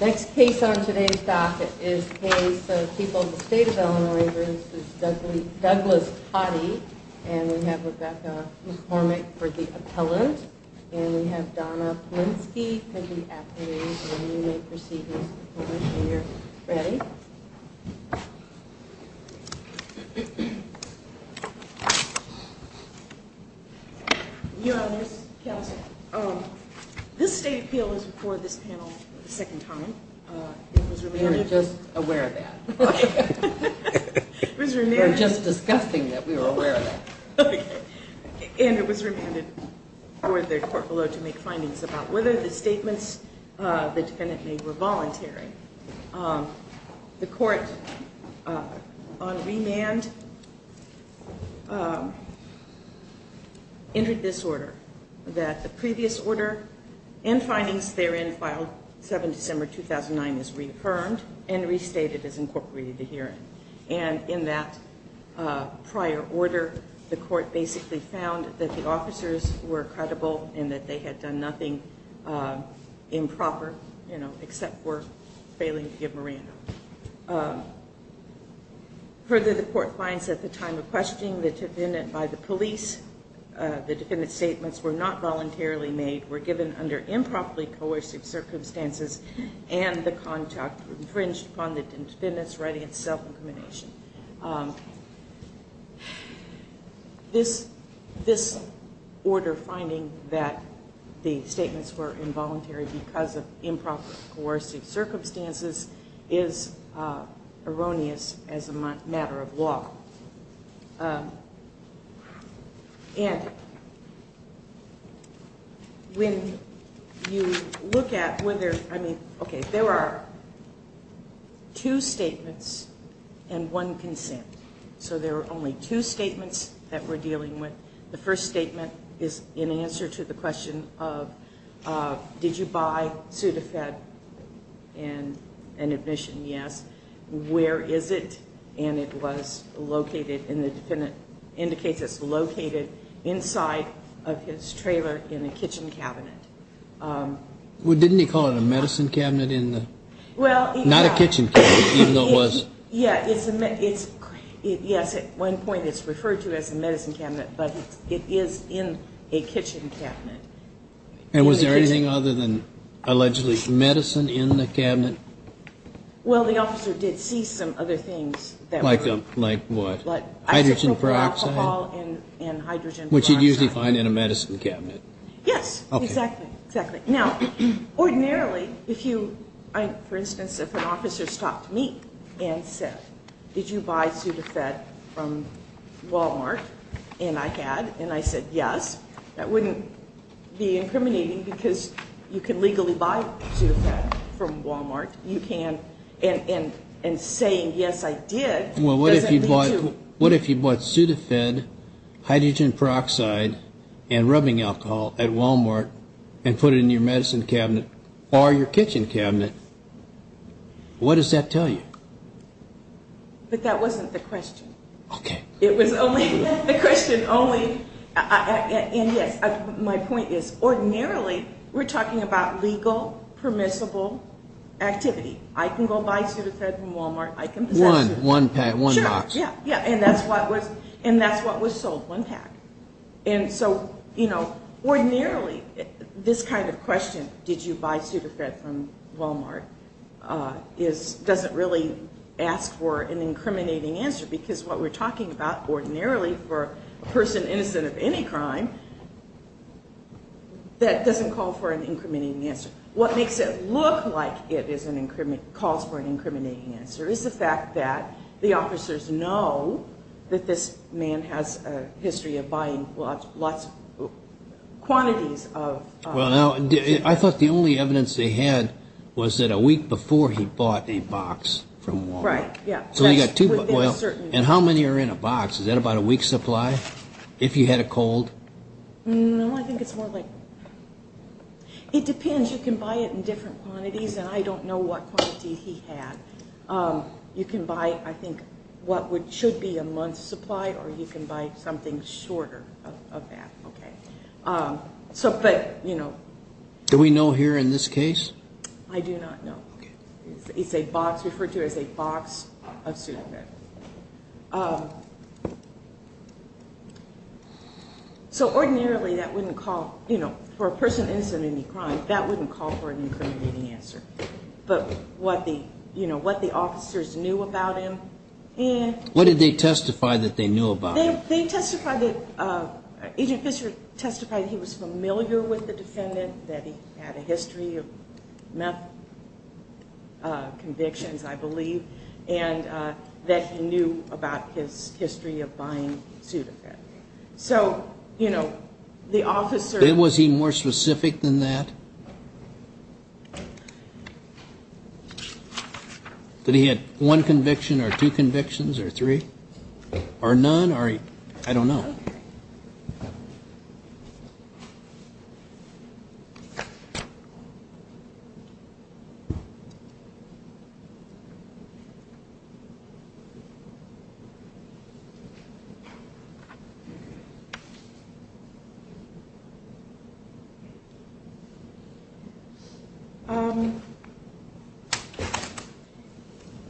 Next case on today's docket is a case of people in the state of Illinois versus Douglas Totty. And we have Rebecca McCormick for the appellant. And we have Donna Polinsky for the appellant. And you may proceed, Ms. McCormick, when you're ready. Your Honors, counsel, this state appeal is before this panel for the second time. We were just aware of that. We were just discussing that we were aware of that. And it was remanded for the court below to make findings about whether the statements the defendant made were voluntary. The court on remand entered this order, that the previous order and findings therein filed 7 December 2009 is reaffirmed and restated as incorporated in the hearing. And in that prior order, the court basically found that the officers were credible and that they had done nothing improper, you know, except for failing to give Moran up. Further, the court finds at the time of questioning the defendant by the police, the defendant's statements were not voluntarily made, were given under improperly coercive circumstances, and the contact infringed upon the defendant's right of self-incrimination. This order finding that the statements were involuntary because of improper coercive circumstances is erroneous as a matter of law. And when you look at whether, I mean, okay, there are two statements and one consent. So there are only two statements that we're dealing with. The first statement is in answer to the question of did you buy Sudafed and an admission, yes. Where is it? And it was located, and the defendant indicates it's located inside of his trailer in a kitchen cabinet. Well, didn't he call it a medicine cabinet in the ñ not a kitchen cabinet, even though it was. Yes, at one point it's referred to as a medicine cabinet, but it is in a kitchen cabinet. And was there anything other than allegedly medicine in the cabinet? Well, the officer did see some other things. Like what? Hydrogen peroxide. Alcohol and hydrogen peroxide. Which you'd usually find in a medicine cabinet. Yes, exactly, exactly. Now, ordinarily, if you ñ for instance, if an officer stopped me and said, did you buy Sudafed from Walmart, and I had, and I said yes, that wouldn't be incriminating because you can legally buy Sudafed from Walmart. You can, and saying yes I did doesn't lead to ñ Well, what if you bought Sudafed, hydrogen peroxide, and rubbing alcohol at Walmart and put it in your medicine cabinet or your kitchen cabinet? What does that tell you? But that wasn't the question. Okay. It was only ñ the question only ñ and, yes, my point is, ordinarily we're talking about legal, permissible activity. I can go buy Sudafed from Walmart. I can possess Sudafed. One pack, one box. Sure, yeah, yeah, and that's what was sold, one pack. And so, you know, ordinarily this kind of question, did you buy Sudafed from Walmart, doesn't really ask for an incriminating answer because what we're talking about ordinarily for a person innocent of any crime, that doesn't call for an incriminating answer. What makes it look like it calls for an incriminating answer is the fact that the officers know that this man has a history of buying lots of quantities of ñ Well, now, I thought the only evidence they had was that a week before he bought a box from Walmart. Right, yeah. And how many are in a box? Is that about a week's supply if you had a cold? No, I think it's more like ñ it depends. You can buy it in different quantities, and I don't know what quantity he had. You can buy, I think, what should be a month's supply, or you can buy something shorter of that. Okay. So, but, you know. Do we know here in this case? I do not know. Okay. It's a box, referred to as a box of Sudopet. So ordinarily that wouldn't call, you know, for a person innocent of any crime, that wouldn't call for an incriminating answer. But what the officers knew about him and ñ What did they testify that they knew about him? They testified that, Agent Fisher testified he was familiar with the defendant, that he had a history of meth convictions, I believe, and that he knew about his history of buying Sudopet. So, you know, the officer ñ Was he more specific than that? That he had one conviction or two convictions or three? Or none? I don't know.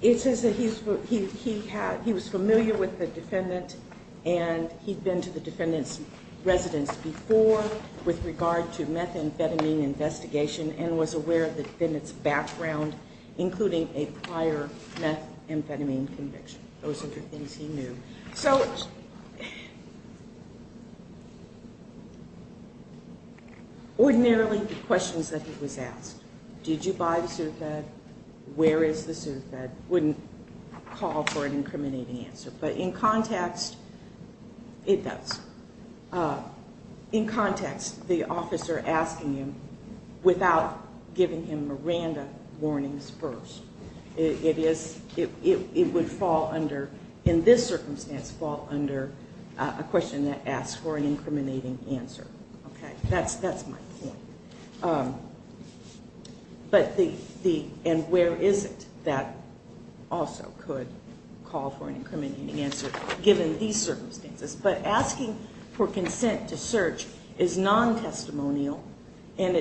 It says that he was familiar with the defendant and he'd been to the defendant's residence before with regard to methamphetamine investigation and was aware of the defendant's background, including a prior methamphetamine conviction. Those are the things he knew. So ordinarily the questions that he was asked, did you buy the Sudopet, where is the Sudopet, wouldn't call for an incriminating answer. But in context, it does. In context, the officer asking him without giving him Miranda warnings first. It would fall under, in this circumstance, fall under a question that asks for an incriminating answer. That's my point. And where is it that also could call for an incriminating answer, given these circumstances. But asking for consent to search is non-testimonial and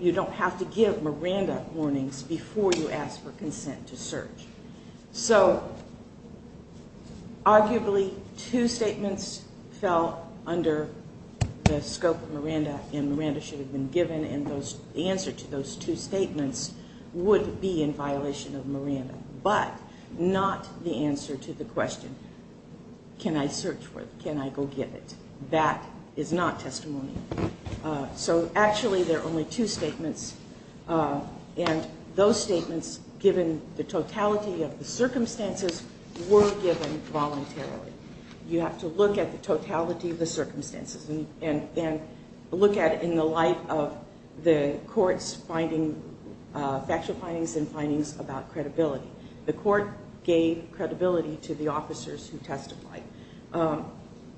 you don't have to give Miranda warnings before you ask for consent to search. So arguably two statements fell under the scope of Miranda and Miranda should have been given and the answer to those two statements would be in violation of Miranda, but not the answer to the question, can I search for it, can I go get it. That is not testimonial. So actually there are only two statements and those statements given the totality of the circumstances were given voluntarily. You have to look at the totality of the circumstances and look at it in the light of the court's finding, factual findings and findings about credibility. The court gave credibility to the officers who testified.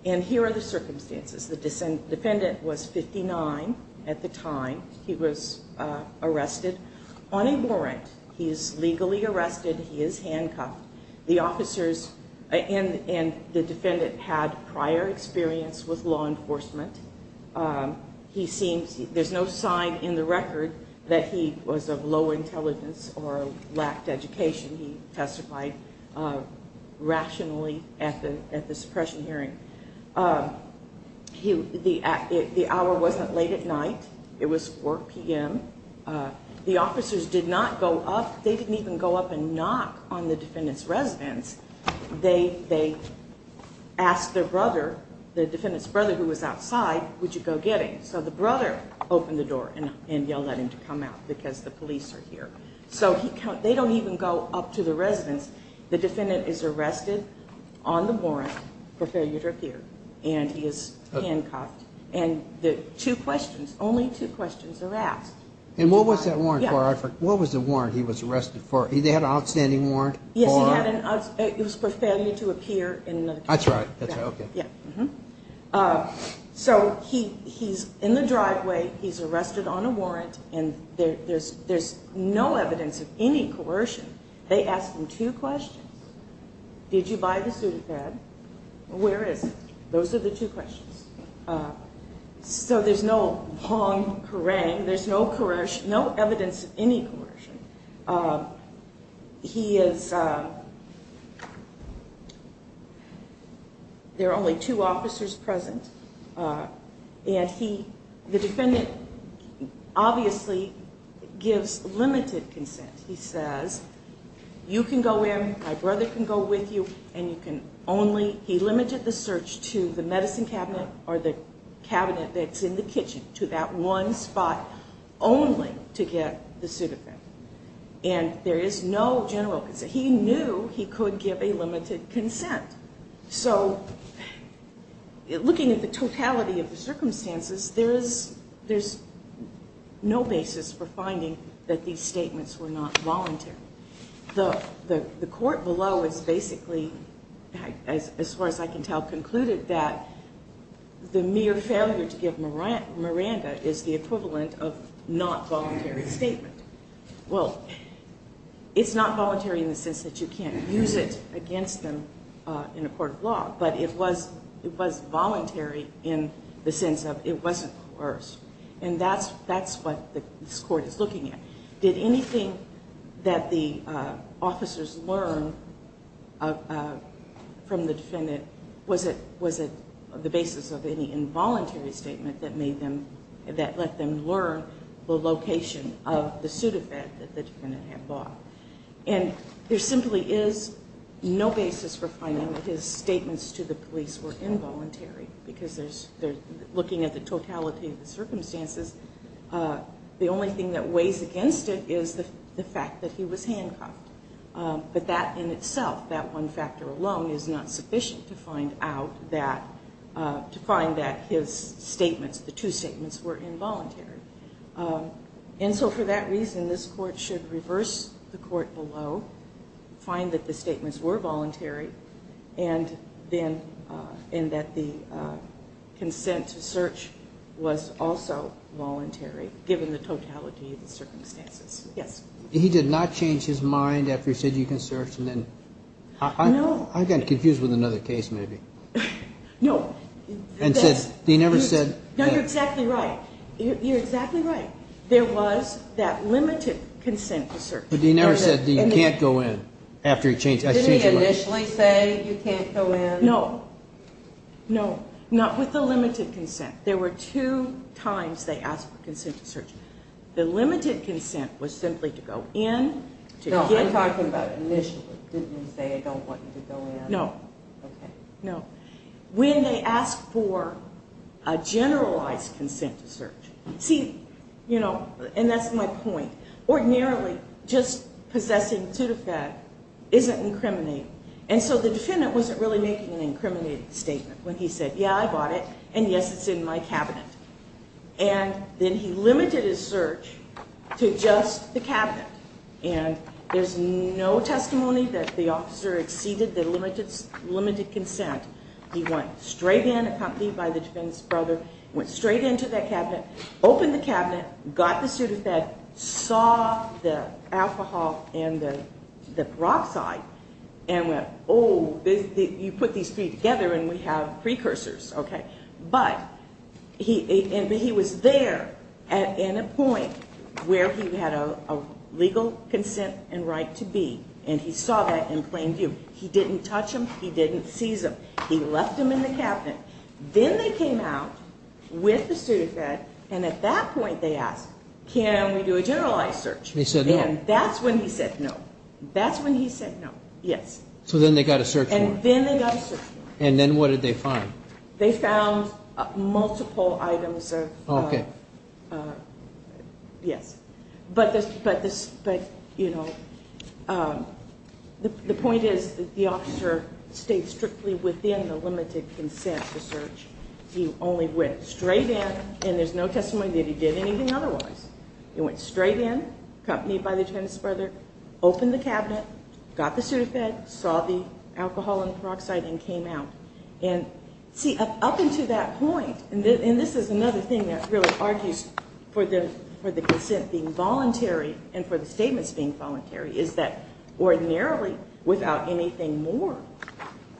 And here are the circumstances. The defendant was 59 at the time he was arrested. Unabhorrent, he is legally arrested, he is handcuffed. The officers and the defendant had prior experience with law enforcement. There's no sign in the record that he was of low intelligence or lacked education. He testified rationally at the suppression hearing. The hour wasn't late at night. It was 4 p.m. The officers did not go up. They didn't even go up and knock on the defendant's residence. They asked their brother, the defendant's brother who was outside, would you go get him. So the brother opened the door and yelled at him to come out because the police are here. So they don't even go up to the residence. The defendant is arrested on the warrant for failure to appear, and he is handcuffed. And the two questions, only two questions are asked. And what was that warrant for? What was the warrant he was arrested for? They had an outstanding warrant? Yes, it was for failure to appear. That's right. So he's in the driveway, he's arrested on a warrant, and there's no evidence of any coercion. They ask him two questions. Did you buy the suit of thread? Where is it? Those are the two questions. So there's no long harangue. There's no evidence of any coercion. There are only two officers present. And the defendant obviously gives limited consent. He says, you can go in, my brother can go with you, and you can only, he limited the search to the medicine cabinet or the cabinet that's in the kitchen, to that one spot, only to get the suit of thread. And there is no general consent. He knew he could give a limited consent. So looking at the totality of the circumstances, there's no basis for finding that these statements were not voluntary. The court below has basically, as far as I can tell, concluded that the mere failure to give Miranda is the equivalent of not voluntary statement. Well, it's not voluntary in the sense that you can't use it against them in a court of law, but it was voluntary in the sense of it wasn't coerced. And that's what this court is looking at. Did anything that the officers learned from the defendant, was it the basis of any involuntary statement that let them learn the location of the suit of thread that the defendant had bought? And there simply is no basis for finding that his statements to the police were involuntary, because looking at the totality of the circumstances, the only thing that weighs against it is the fact that he was handcuffed. But that in itself, that one factor alone, is not sufficient to find out that, to find that his statements, the two statements were involuntary. And so for that reason, this court should reverse the court below, find that the statements were voluntary, and that the consent to search was also voluntary, given the totality of the circumstances. Yes? He did not change his mind after he said you can search and then? No. I got confused with another case maybe. No. And said, he never said. No, you're exactly right. There was that limited consent to search. But he never said you can't go in after he changed his mind. Didn't he initially say you can't go in? No. No. Not with the limited consent. There were two times they asked for consent to search. The limited consent was simply to go in. No, I'm talking about initially. Didn't he say I don't want you to go in? No. Okay. No. When they asked for a generalized consent to search, see, you know, and that's my point, ordinarily just possessing to the fact isn't incriminating. And so the defendant wasn't really making an incriminating statement when he said, yeah, I bought it, and, yes, it's in my cabinet. And then he limited his search to just the cabinet. And there's no testimony that the officer exceeded the limited consent He went straight in, accompanied by the defendant's brother, went straight into that cabinet, opened the cabinet, got the pseudofed, saw the alcohol and the peroxide, and went, oh, you put these three together and we have precursors, okay? But he was there at a point where he had a legal consent and right to be, and he saw that in plain view. He didn't touch him. He didn't seize him. He left him in the cabinet. Then they came out with the pseudofed, and at that point they asked, can we do a generalized search? And that's when he said no. That's when he said no, yes. So then they got a search warrant. And then they got a search warrant. And then what did they find? They found multiple items of, yes. But, you know, the point is that the officer stayed strictly within the limited consent to search. He only went straight in, and there's no testimony that he did anything otherwise. He went straight in, accompanied by the defendant's brother, opened the cabinet, got the pseudofed, saw the alcohol and the peroxide, and came out. And, see, up until that point, And this is another thing that really argues for the consent being voluntary and for the statements being voluntary, is that ordinarily without anything more,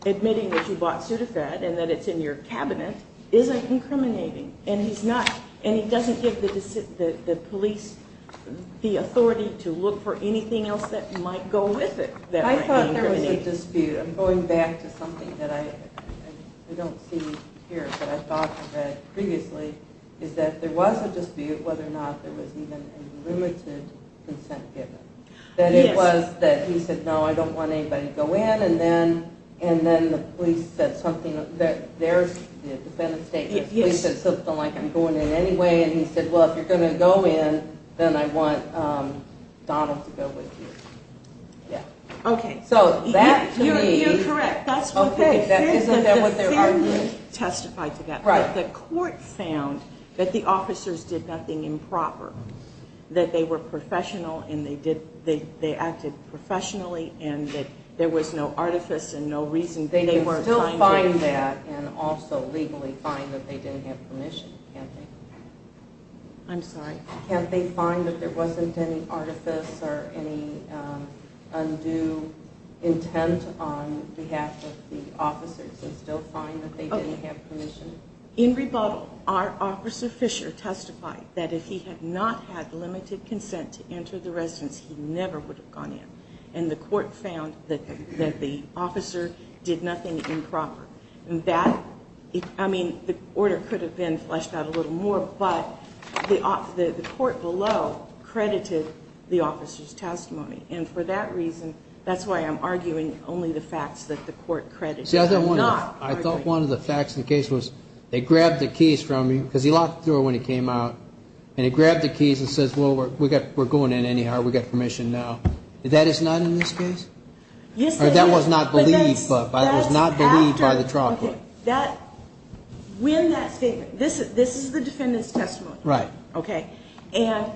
admitting that you bought pseudofed and that it's in your cabinet isn't incriminating. And he doesn't give the police the authority to look for anything else that might go with it that might be incriminating. I thought there was a dispute. I'm going back to something that I don't see here, but I thought I read previously, is that there was a dispute whether or not there was even a limited consent given. That it was that he said, no, I don't want anybody to go in, and then the police said something, their defendant's statement, the police said something like, I'm going in anyway, and he said, well, if you're going to go in, then I want Donald to go with you. Yeah. Okay. You're correct. Okay. Isn't that what they're arguing? The court found that the officers did nothing improper, that they were professional and they acted professionally and that there was no artifice and no reason. They can still find that and also legally find that they didn't have permission, can't they? I'm sorry? Can't they find that there wasn't any artifice or any undue intent on behalf of the officers and still find that they didn't have permission? In rebuttal, our officer, Fisher, testified that if he had not had limited consent to enter the residence, he never would have gone in, and the court found that the officer did nothing improper. I mean, the order could have been fleshed out a little more, but the court below credited the officer's testimony, and for that reason that's why I'm arguing only the facts that the court credited. See, I thought one of the facts of the case was they grabbed the keys from him because he locked the door when he came out, and he grabbed the keys and says, well, we're going in anyhow, we've got permission now. That is not in this case? Yes, it is. That was not believed by the trial court? This is the defendant's testimony. Right. And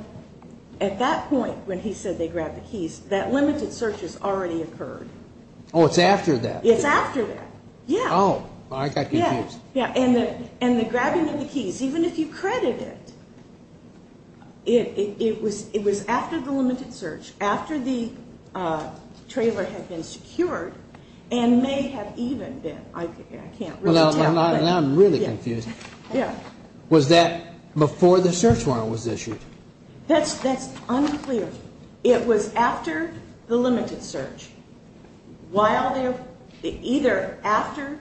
at that point when he said they grabbed the keys, that limited search has already occurred. Oh, it's after that? It's after that, yeah. Oh, I got confused. And the grabbing of the keys, even if you credit it, it was after the limited search, after the trailer had been secured, and may have even been, I can't really tell. Now I'm really confused. Yeah. Was that before the search warrant was issued? That's unclear. It was after the limited search. While there, either after,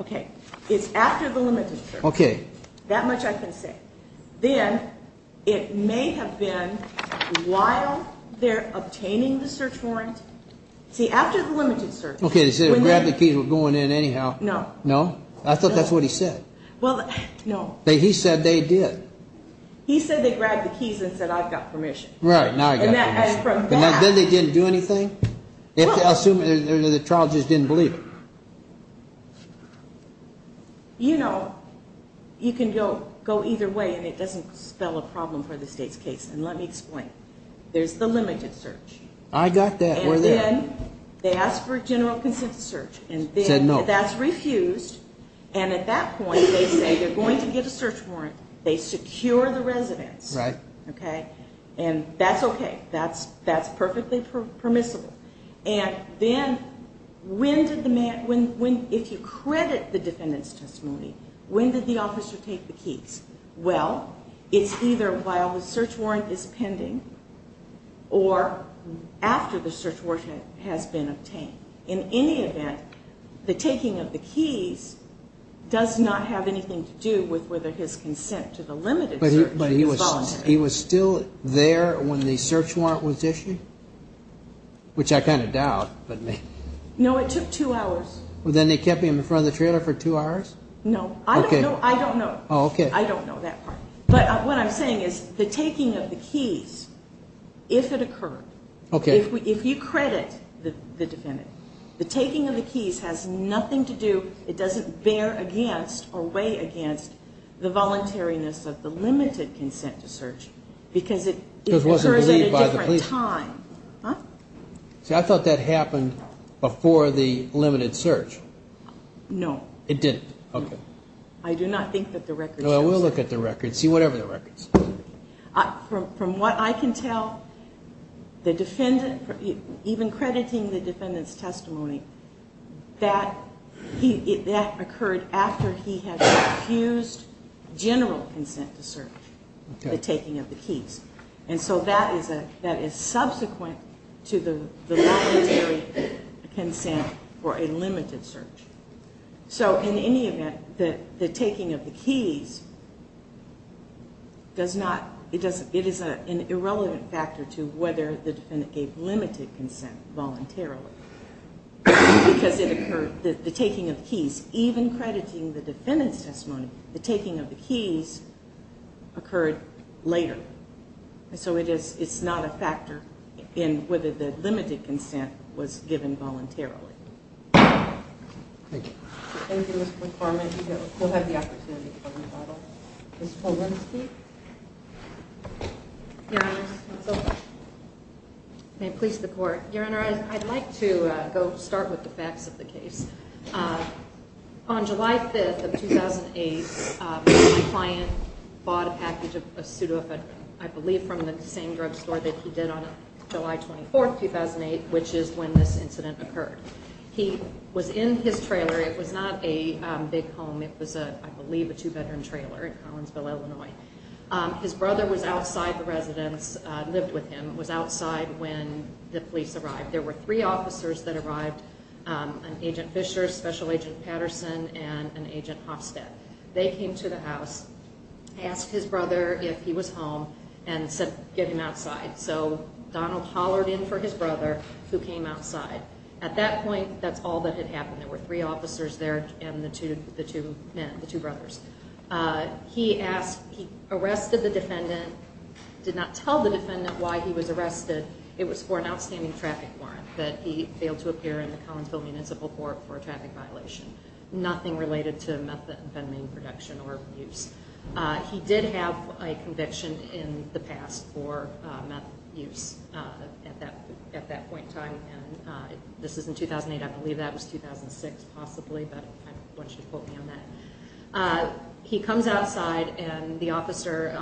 okay, it's after the limited search. Okay. That much I can say. Then it may have been while they're obtaining the search warrant. See, after the limited search. Okay, they said they grabbed the keys and were going in anyhow. No. No? No. I thought that's what he said. Well, no. He said they did. He said they grabbed the keys and said, I've got permission. Right, now I've got permission. And from that. And then they didn't do anything? Well. Assuming the trial just didn't believe it. You know, you can go either way, and it doesn't spell a problem for the state's case. And let me explain. There's the limited search. I got that. And then they asked for general consent to search. Said no. And then that's refused. And at that point they say they're going to get a search warrant. They secure the residence. Right. Okay. And that's okay. That's perfectly permissible. And then when did the man, if you credit the defendant's testimony, when did the officer take the keys? Well, it's either while the search warrant is pending or after the search warrant has been obtained. In any event, the taking of the keys does not have anything to do with whether his consent to the limited search is voluntary. But he was still there when the search warrant was issued? Which I kind of doubt. No, it took two hours. Then they kept him in front of the trailer for two hours? No. I don't know that part. But what I'm saying is the taking of the keys, if it occurred, if you credit the defendant, the taking of the keys has nothing to do, it doesn't bear against or weigh against the voluntariness of the limited consent to search because it occurs at a different time. See, I thought that happened before the limited search. No. It didn't. Okay. I do not think that the record shows that. No, we'll look at the record, see whatever the record says. From what I can tell, the defendant, even crediting the defendant's testimony, that occurred after he had refused general consent to search, the taking of the keys. And so that is subsequent to the voluntary consent for a limited search. So in any event, the taking of the keys does not, it is an irrelevant factor to whether the defendant gave limited consent voluntarily because the taking of the keys, even crediting the defendant's testimony, the taking of the keys occurred later. And so it's not a factor in whether the limited consent was given voluntarily. Thank you. Thank you, Ms. McCormick. We'll have the opportunity for a rebuttal. Ms. Colburn, speak. Your Honor, it's over. May it please the Court. Your Honor, I'd like to go start with the facts of the case. On July 5th of 2008, my client bought a package of pseudoephedrine, I believe from the same drugstore that he did on July 24th, 2008, which is when this incident occurred. He was in his trailer. It was not a big home. It was, I believe, a two-veteran trailer in Collinsville, Illinois. His brother was outside the residence, lived with him, was outside when the police arrived. There were three officers that arrived, an Agent Fisher, Special Agent Patterson, and an Agent Hofstad. They came to the house, asked his brother if he was home, and said, get him outside. So Donald hollered in for his brother, who came outside. At that point, that's all that had happened. There were three officers there and the two men, the two brothers. He asked, he arrested the defendant, did not tell the defendant why he was arrested. It was for an outstanding traffic warrant that he failed to appear in the Collinsville Municipal Court for a traffic violation, nothing related to meth abandonment production or abuse. He did have a conviction in the past for meth use at that point in time. This is in 2008. I believe that was 2006, possibly, but I want you to quote me on that. He comes outside, and the officer,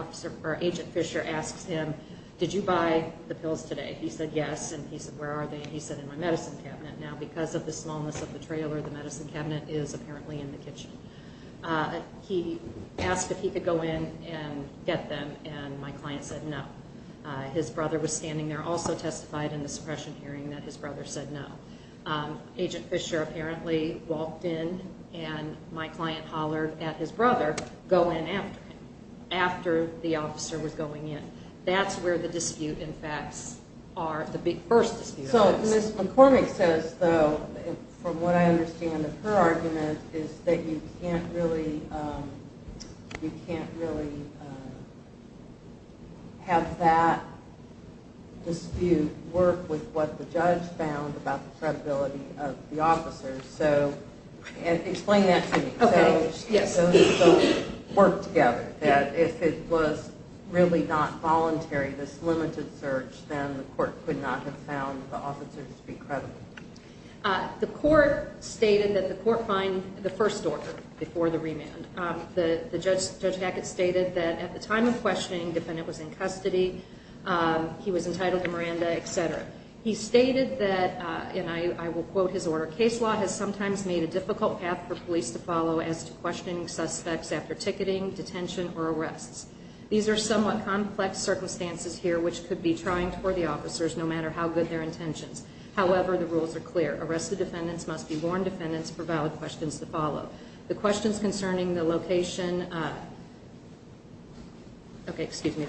Agent Fisher, asks him, did you buy the pills today? He said, yes. He said, where are they? He said, in my medicine cabinet. Now, because of the smallness of the trailer, the medicine cabinet is apparently in the kitchen. He asked if he could go in and get them, and my client said no. His brother was standing there, also testified in the suppression hearing that his brother said no. Agent Fisher apparently walked in, and my client hollered at his brother, go in after him, and that's where the dispute, in fact, the big first dispute is. So Ms. McCormick says, though, from what I understand of her argument, is that you can't really have that dispute work with what the judge found about the credibility of the officers. So explain that to me. Okay, yes. So they still work together, that if it was really not voluntary, this limited search, then the court could not have found the officers to be credible? The court stated that the court find the first order before the remand. Judge Hackett stated that at the time of questioning, the defendant was in custody, he was entitled to Miranda, et cetera. He stated that, and I will quote his order, case law has sometimes made a difficult path for police to follow as to questioning suspects after ticketing, detention, or arrests. These are somewhat complex circumstances here, which could be trying for the officers no matter how good their intentions. However, the rules are clear. Arrested defendants must be warned defendants for valid questions to follow. The questions concerning the location, okay, excuse me,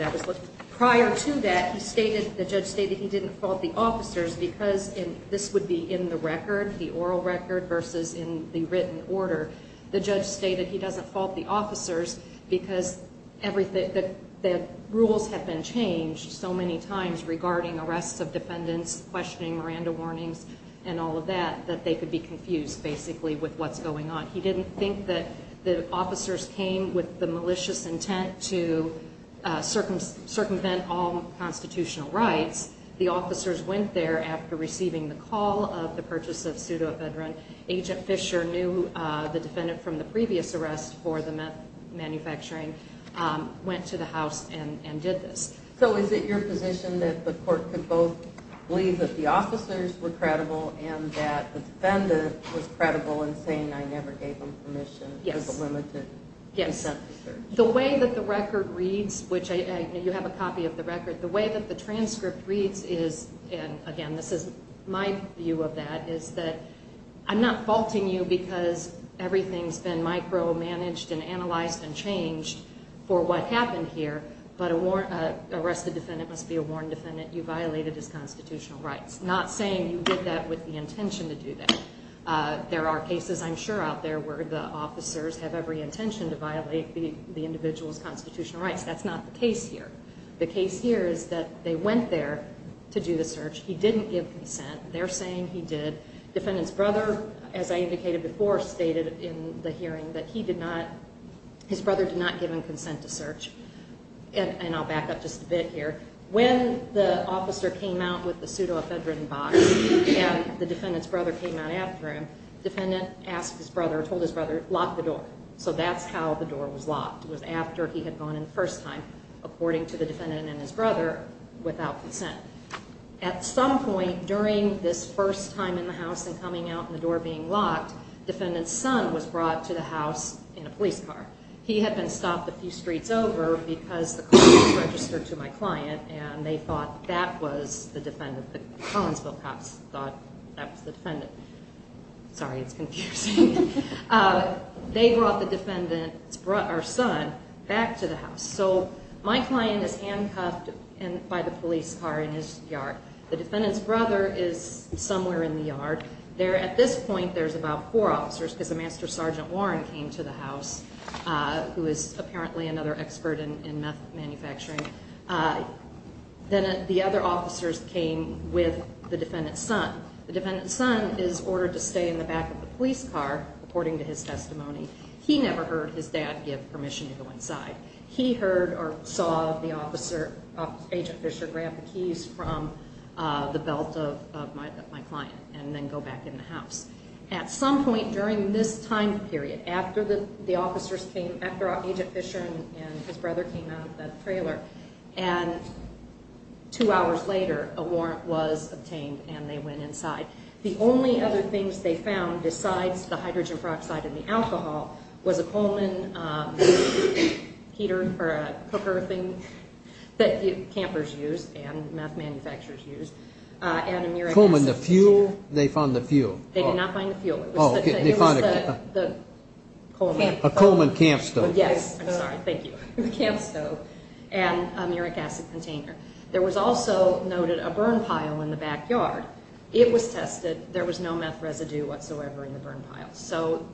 prior to that the judge stated he didn't fault the officers because this would be in the record, the oral record, versus in the written order. The judge stated he doesn't fault the officers because the rules have been changed so many times regarding arrests of defendants, questioning Miranda warnings, and all of that, that they could be confused basically with what's going on. He didn't think that the officers came with the malicious intent to circumvent all constitutional rights. The officers went there after receiving the call of the purchase of pseudoephedrine. Agent Fisher knew the defendant from the previous arrest for the manufacturing, went to the house, and did this. So is it your position that the court could both believe that the officers were credible and that the defendant was credible in saying, I never gave them permission for the limited incentive search? Yes. The way that the record reads, which you have a copy of the record, the way that the transcript reads is, and again, this is my view of that, is that I'm not faulting you because everything's been micromanaged and analyzed and changed for what happened here, but an arrested defendant must be a warned defendant. You violated his constitutional rights. I'm not saying you did that with the intention to do that. There are cases, I'm sure, out there where the officers have every intention to violate the individual's constitutional rights. That's not the case here. The case here is that they went there to do the search. He didn't give consent. They're saying he did. The defendant's brother, as I indicated before, stated in the hearing that his brother did not give him consent to search. And I'll back up just a bit here. When the officer came out with the pseudoephedrine box and the defendant's brother came out after him, the defendant asked his brother, told his brother, lock the door. So that's how the door was locked. It was after he had gone in the first time, according to the defendant and his brother, without consent. At some point during this first time in the house and coming out and the door being locked, defendant's son was brought to the house in a police car. He had been stopped a few streets over because the car was registered to my client and they thought that was the defendant. The Collinsville cops thought that was the defendant. Sorry, it's confusing. They brought the defendant's son back to the house. So my client is handcuffed by the police car in his yard. The defendant's brother is somewhere in the yard. At this point there's about four officers because the master sergeant, Warren, came to the house, who is apparently another expert in meth manufacturing. Then the other officers came with the defendant's son. The defendant's son is ordered to stay in the back of the police car, according to his testimony. He never heard his dad give permission to go inside. He heard or saw Agent Fisher grab the keys from the belt of my client and then go back in the house. At some point during this time period, after Agent Fisher and his brother came out of the trailer, and two hours later a warrant was obtained and they went inside. The only other things they found besides the hydrogen peroxide and the alcohol was a Coleman heater or a cooker thing that campers use and meth manufacturers use. Coleman, the fuel? They found the fuel. They did not find the fuel. It was the Coleman. A Coleman camp stove. Yes, I'm sorry. Thank you. The camp stove and a muric acid container. There was also noted a burn pile in the backyard. It was tested. There was no meth residue whatsoever in the burn pile. So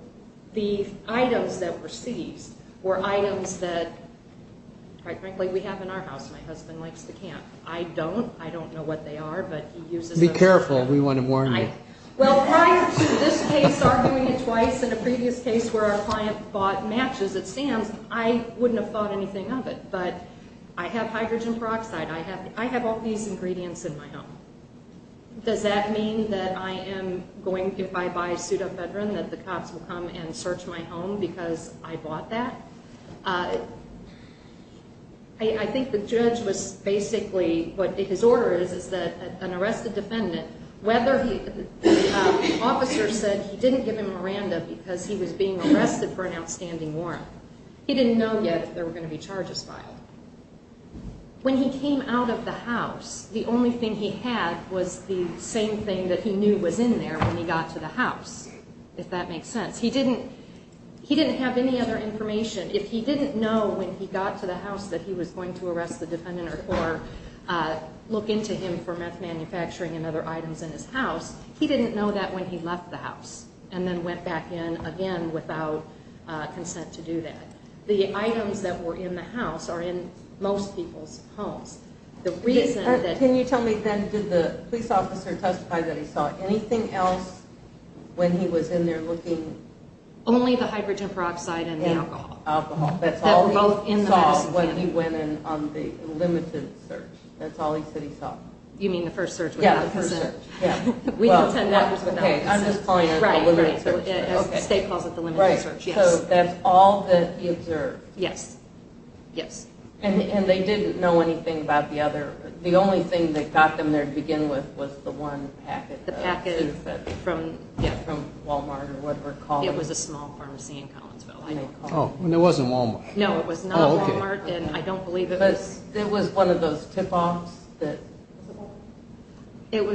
the items that were seized were items that, quite frankly, we have in our house. My husband likes to camp. I don't. I don't know what they are, but he uses them. Be careful. We want to warn you. Well, prior to this case arguing it twice in a previous case where our client bought matches at Sam's, I wouldn't have thought anything of it. But I have hydrogen peroxide. I have all these ingredients in my home. Does that mean that I am going to, if I buy a suit of Vedran, that the cops will come and search my home because I bought that? I think the judge was basically, what his order is, is that an arrested defendant, whether the officer said he didn't give him Miranda because he was being arrested for an outstanding warrant, he didn't know yet that there were going to be charges filed. When he came out of the house, the only thing he had was the same thing that he knew was in there when he got to the house, if that makes sense. He didn't have any other information. If he didn't know when he got to the house that he was going to arrest the defendant or look into him for meth manufacturing and other items in his house, he didn't know that when he left the house and then went back in again without consent to do that. The items that were in the house are in most people's homes. Can you tell me then, did the police officer testify that he saw anything else when he was in there looking? Only the hydrogen peroxide and the alcohol. That's all he saw when he went in on the limited search. That's all he said he saw. You mean the first search? Yes, the first search. We know 10 members of the office. I'm just calling it the limited search. State calls it the limited search, yes. So that's all that he observed. Yes, yes. And they didn't know anything about the other, the only thing that got them there to begin with was the one packet. The packet from, yeah. From Wal-Mart or whatever it was called. It was a small pharmacy in Collinsville. Oh, and it wasn't Wal-Mart. No, it was not Wal-Mart, and I don't believe it was. But it was one of those tip-offs that. It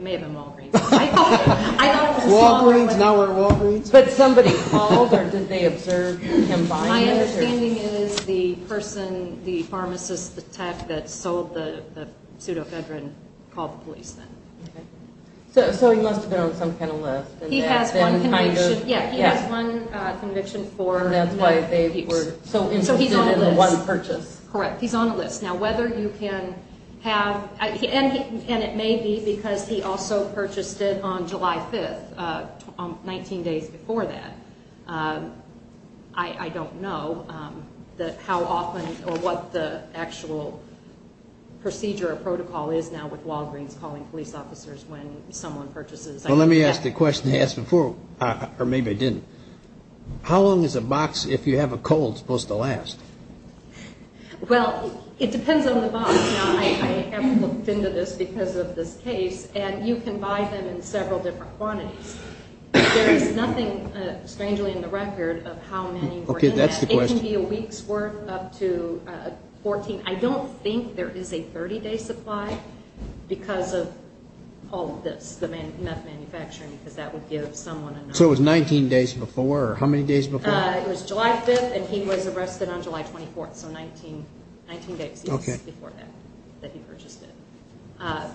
may have been Walgreens. Walgreens, now we're at Walgreens. But somebody called, or did they observe him buying it? My understanding is the person, the pharmacist, the tech that sold the pseudoephedrine called the police then. Okay. So he must have been on some kind of list. He has one conviction. Yeah, he has one conviction for. That's why they were so interested in the one purchase. Correct. He's on a list. Now, whether you can have, and it may be because he also purchased it on July 5th, 19 days before that, I don't know how often or what the actual procedure or protocol is now with Walgreens calling police officers when someone purchases. Well, let me ask the question I asked before, or maybe I didn't. How long is a box, if you have a cold, supposed to last? Well, it depends on the box. Now, I haven't looked into this because of this case, and you can buy them in several different quantities. There is nothing, strangely, in the record of how many were in that. Okay, that's the question. It can be a week's worth up to 14. I don't think there is a 30-day supply because of all of this, the meth manufacturing, because that would give someone a number. So it was 19 days before, or how many days before? It was July 5th, and he was arrested on July 24th, so 19 days before that, that he purchased it.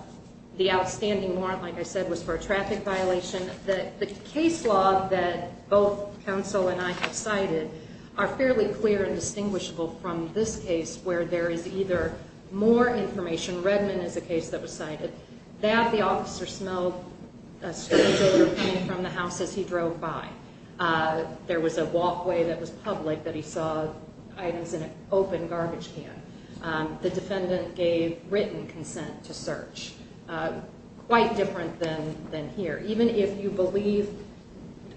The outstanding warrant, like I said, was for a traffic violation. The case law that both counsel and I have cited are fairly clear and distinguishable from this case where there is either more information. Redman is a case that was cited. That the officer smelled a stranger coming from the house as he drove by. There was a walkway that was public that he saw items in an open garbage can. The defendant gave written consent to search, quite different than here. Even if you believe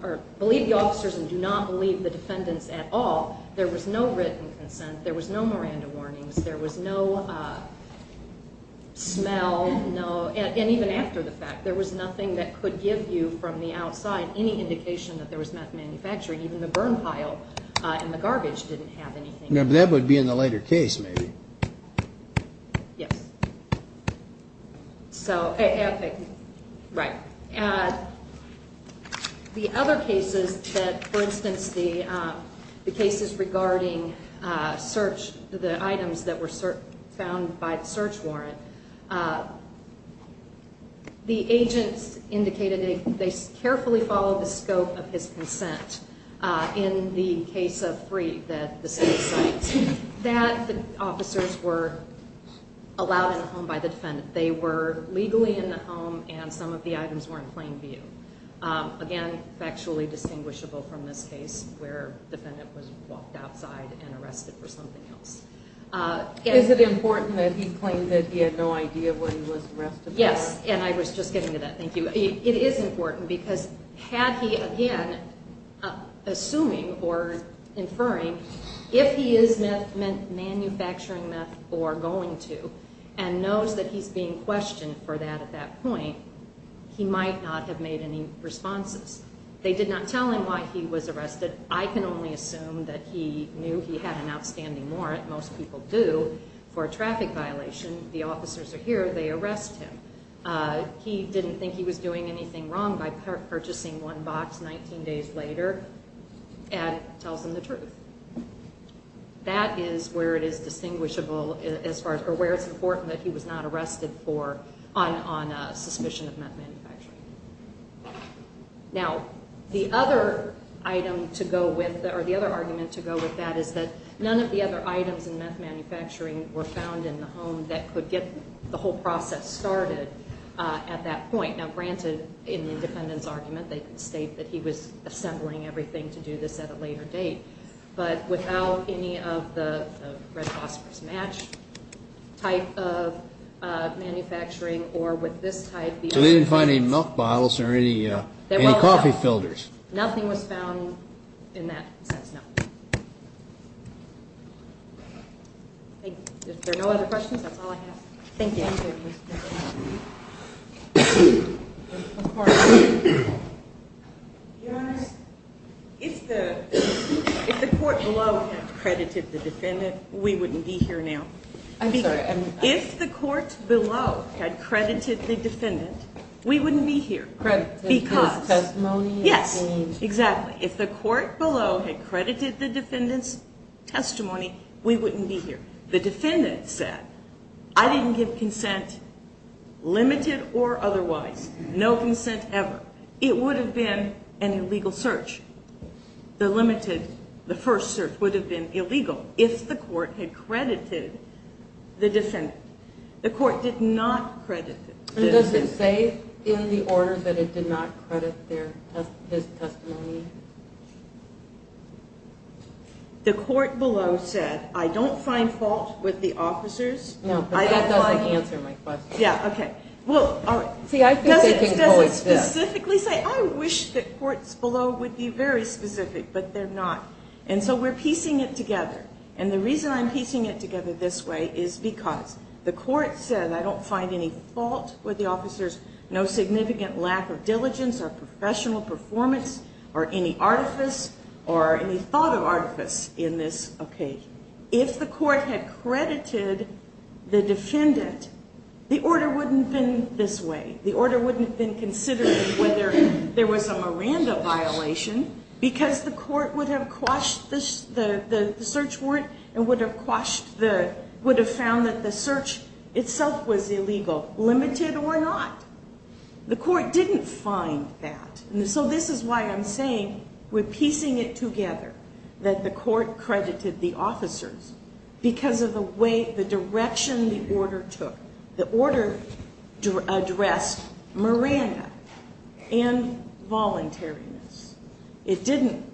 the officers and do not believe the defendants at all, there was no written consent. There was no Miranda warnings. There was no smell. And even after the fact, there was nothing that could give you from the outside any indication that there was meth manufacturing. Even the burn pile in the garbage didn't have anything. That would be in the later case maybe. Yes. So, right. The other cases that, for instance, the cases regarding search, the items that were found by the search warrant, the agents indicated they carefully followed the scope of his consent. In the case of three, that the city site, that the officers were allowed in the home by the defendant. They were legally in the home and some of the items were in plain view. Again, factually distinguishable from this case where the defendant was walked outside and arrested for something else. Is it important that he claimed that he had no idea where he was arrested? Yes. And I was just getting to that. Thank you. It is important because had he, again, assuming or inferring, if he is manufacturing meth or going to and knows that he's being questioned for that at that point, he might not have made any responses. They did not tell him why he was arrested. I can only assume that he knew he had an outstanding warrant, most people do, for a traffic violation. The officers are here. They arrest him. He didn't think he was doing anything wrong by purchasing one box 19 days later and tells them the truth. That is where it is distinguishable as far as or where it's important that he was not arrested for on suspicion of meth manufacturing. Now, the other item to go with or the other argument to go with that is that none of the other items in meth manufacturing were found in the home that could get the whole process started at that point. Now, granted, in the defendant's argument, they can state that he was assembling everything to do this at a later date. But without any of the red phosphorous match type of manufacturing or with this type, the officer didn't find any milk bottles or any coffee filters. Nothing was found in that sense, no. If there are no other questions, that's all I have. Thank you. Your Honor, if the court below had credited the defendant, we wouldn't be here now. I'm sorry. If the court below had credited the defendant, we wouldn't be here. Credited his testimony? Yes, exactly. If the court below had credited the defendant's testimony, we wouldn't be here. The defendant said, I didn't give consent, limited or otherwise, no consent ever. It would have been an illegal search. The first search would have been illegal if the court had credited the defendant. The court did not credit the defendant. Does it say in the order that it did not credit his testimony? The court below said, I don't find fault with the officers. No, but that doesn't answer my question. Yeah, okay. Well, does it specifically say? I wish that courts below would be very specific, but they're not. And so we're piecing it together. And the reason I'm piecing it together this way is because the court said, I don't find any fault with the officers, no significant lack of diligence or professional performance or any artifice or any thought of artifice in this. Okay. If the court had credited the defendant, the order wouldn't have been this way. The order wouldn't have been considering whether there was a Miranda violation because the court would have quashed the search warrant and would have found that the search itself was illegal, limited or not. The court didn't find that. And so this is why I'm saying we're piecing it together, that the court credited the officers because of the way, the direction the order took. The order addressed Miranda and voluntariness. It didn't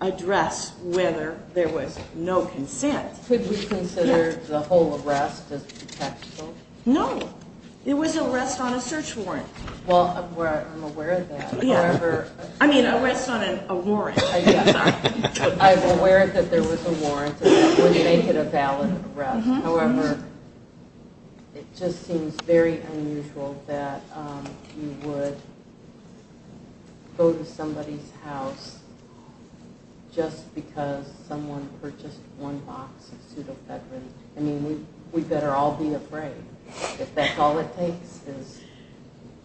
address whether there was no consent. Could we consider the whole arrest as potential? No. It was an arrest on a search warrant. Well, I'm aware of that. I mean, an arrest on a warrant. I'm aware that there was a warrant that would make it a valid arrest. However, it just seems very unusual that you would go to somebody's house just because someone purchased one box of pseudofedrin. I mean, we'd better all be afraid. If that's all it takes is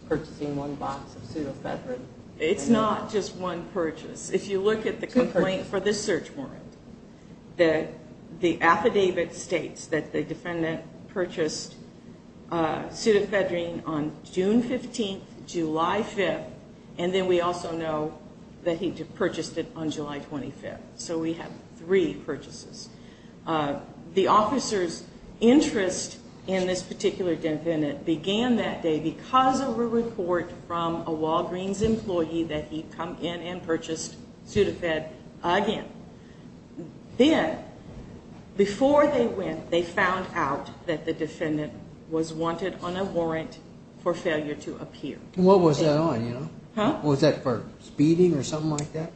purchasing one box of pseudofedrin. It's not just one purchase. If you look at the complaint for this search warrant, the affidavit states that the defendant purchased pseudofedrin on June 15th, July 5th, and then we also know that he purchased it on July 25th. So we have three purchases. The officer's interest in this particular defendant began that day because of a report from a Walgreens employee that he'd come in and purchased pseudofed again. Then, before they went, they found out that the defendant was wanted on a warrant for failure to appear. And what was that on, you know? Was that for speeding or something like that?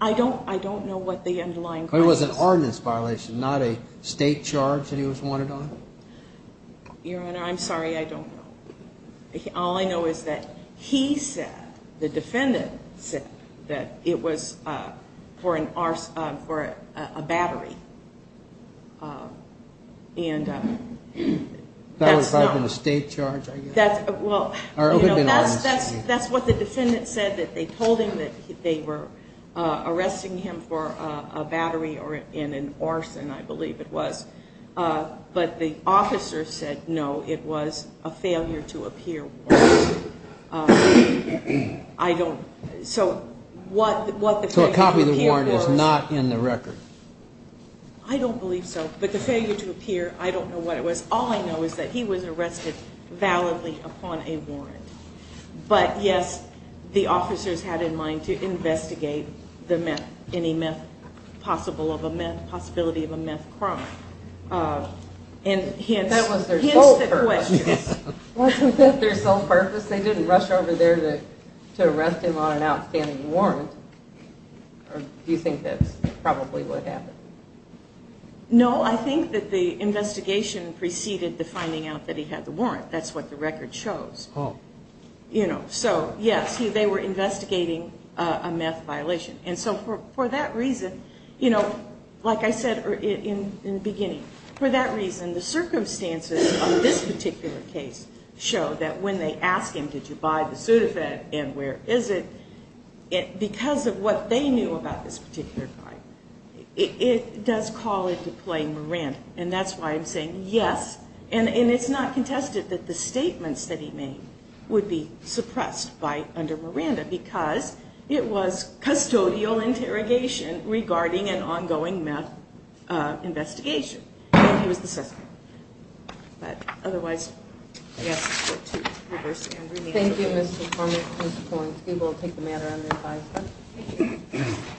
I don't know what the underlying crisis was. But it was an ordinance violation, not a state charge that he was wanted on? Your Honor, I'm sorry. I don't know. All I know is that he said, the defendant said, that it was for a battery. And that's what the defendant said, that they told him that they were arresting him for a battery or in an arson, I believe it was. But the officer said, no, it was a failure to appear warrant. So a copy of the warrant is not in the record? I don't believe so. But the failure to appear, I don't know what it was. But, yes, the officers had in mind to investigate the meth, any possibility of a meth crime. That was their sole purpose. Wasn't that their sole purpose? They didn't rush over there to arrest him on an outstanding warrant. Or do you think that's probably what happened? No, I think that the investigation preceded the finding out that he had the warrant. That's what the record shows. So, yes, they were investigating a meth violation. And so for that reason, like I said in the beginning, for that reason, the circumstances of this particular case show that when they ask him, did you buy the Sudafed and where is it, because of what they knew about this particular crime, it does call into play Miranda. And that's why I'm saying, yes. And it's not contested that the statements that he made would be suppressed by under Miranda because it was custodial interrogation regarding an ongoing meth investigation. And he was the suspect. But otherwise, I guess it's up to you. Thank you, Mr. Foreman. We will take the matter under revised.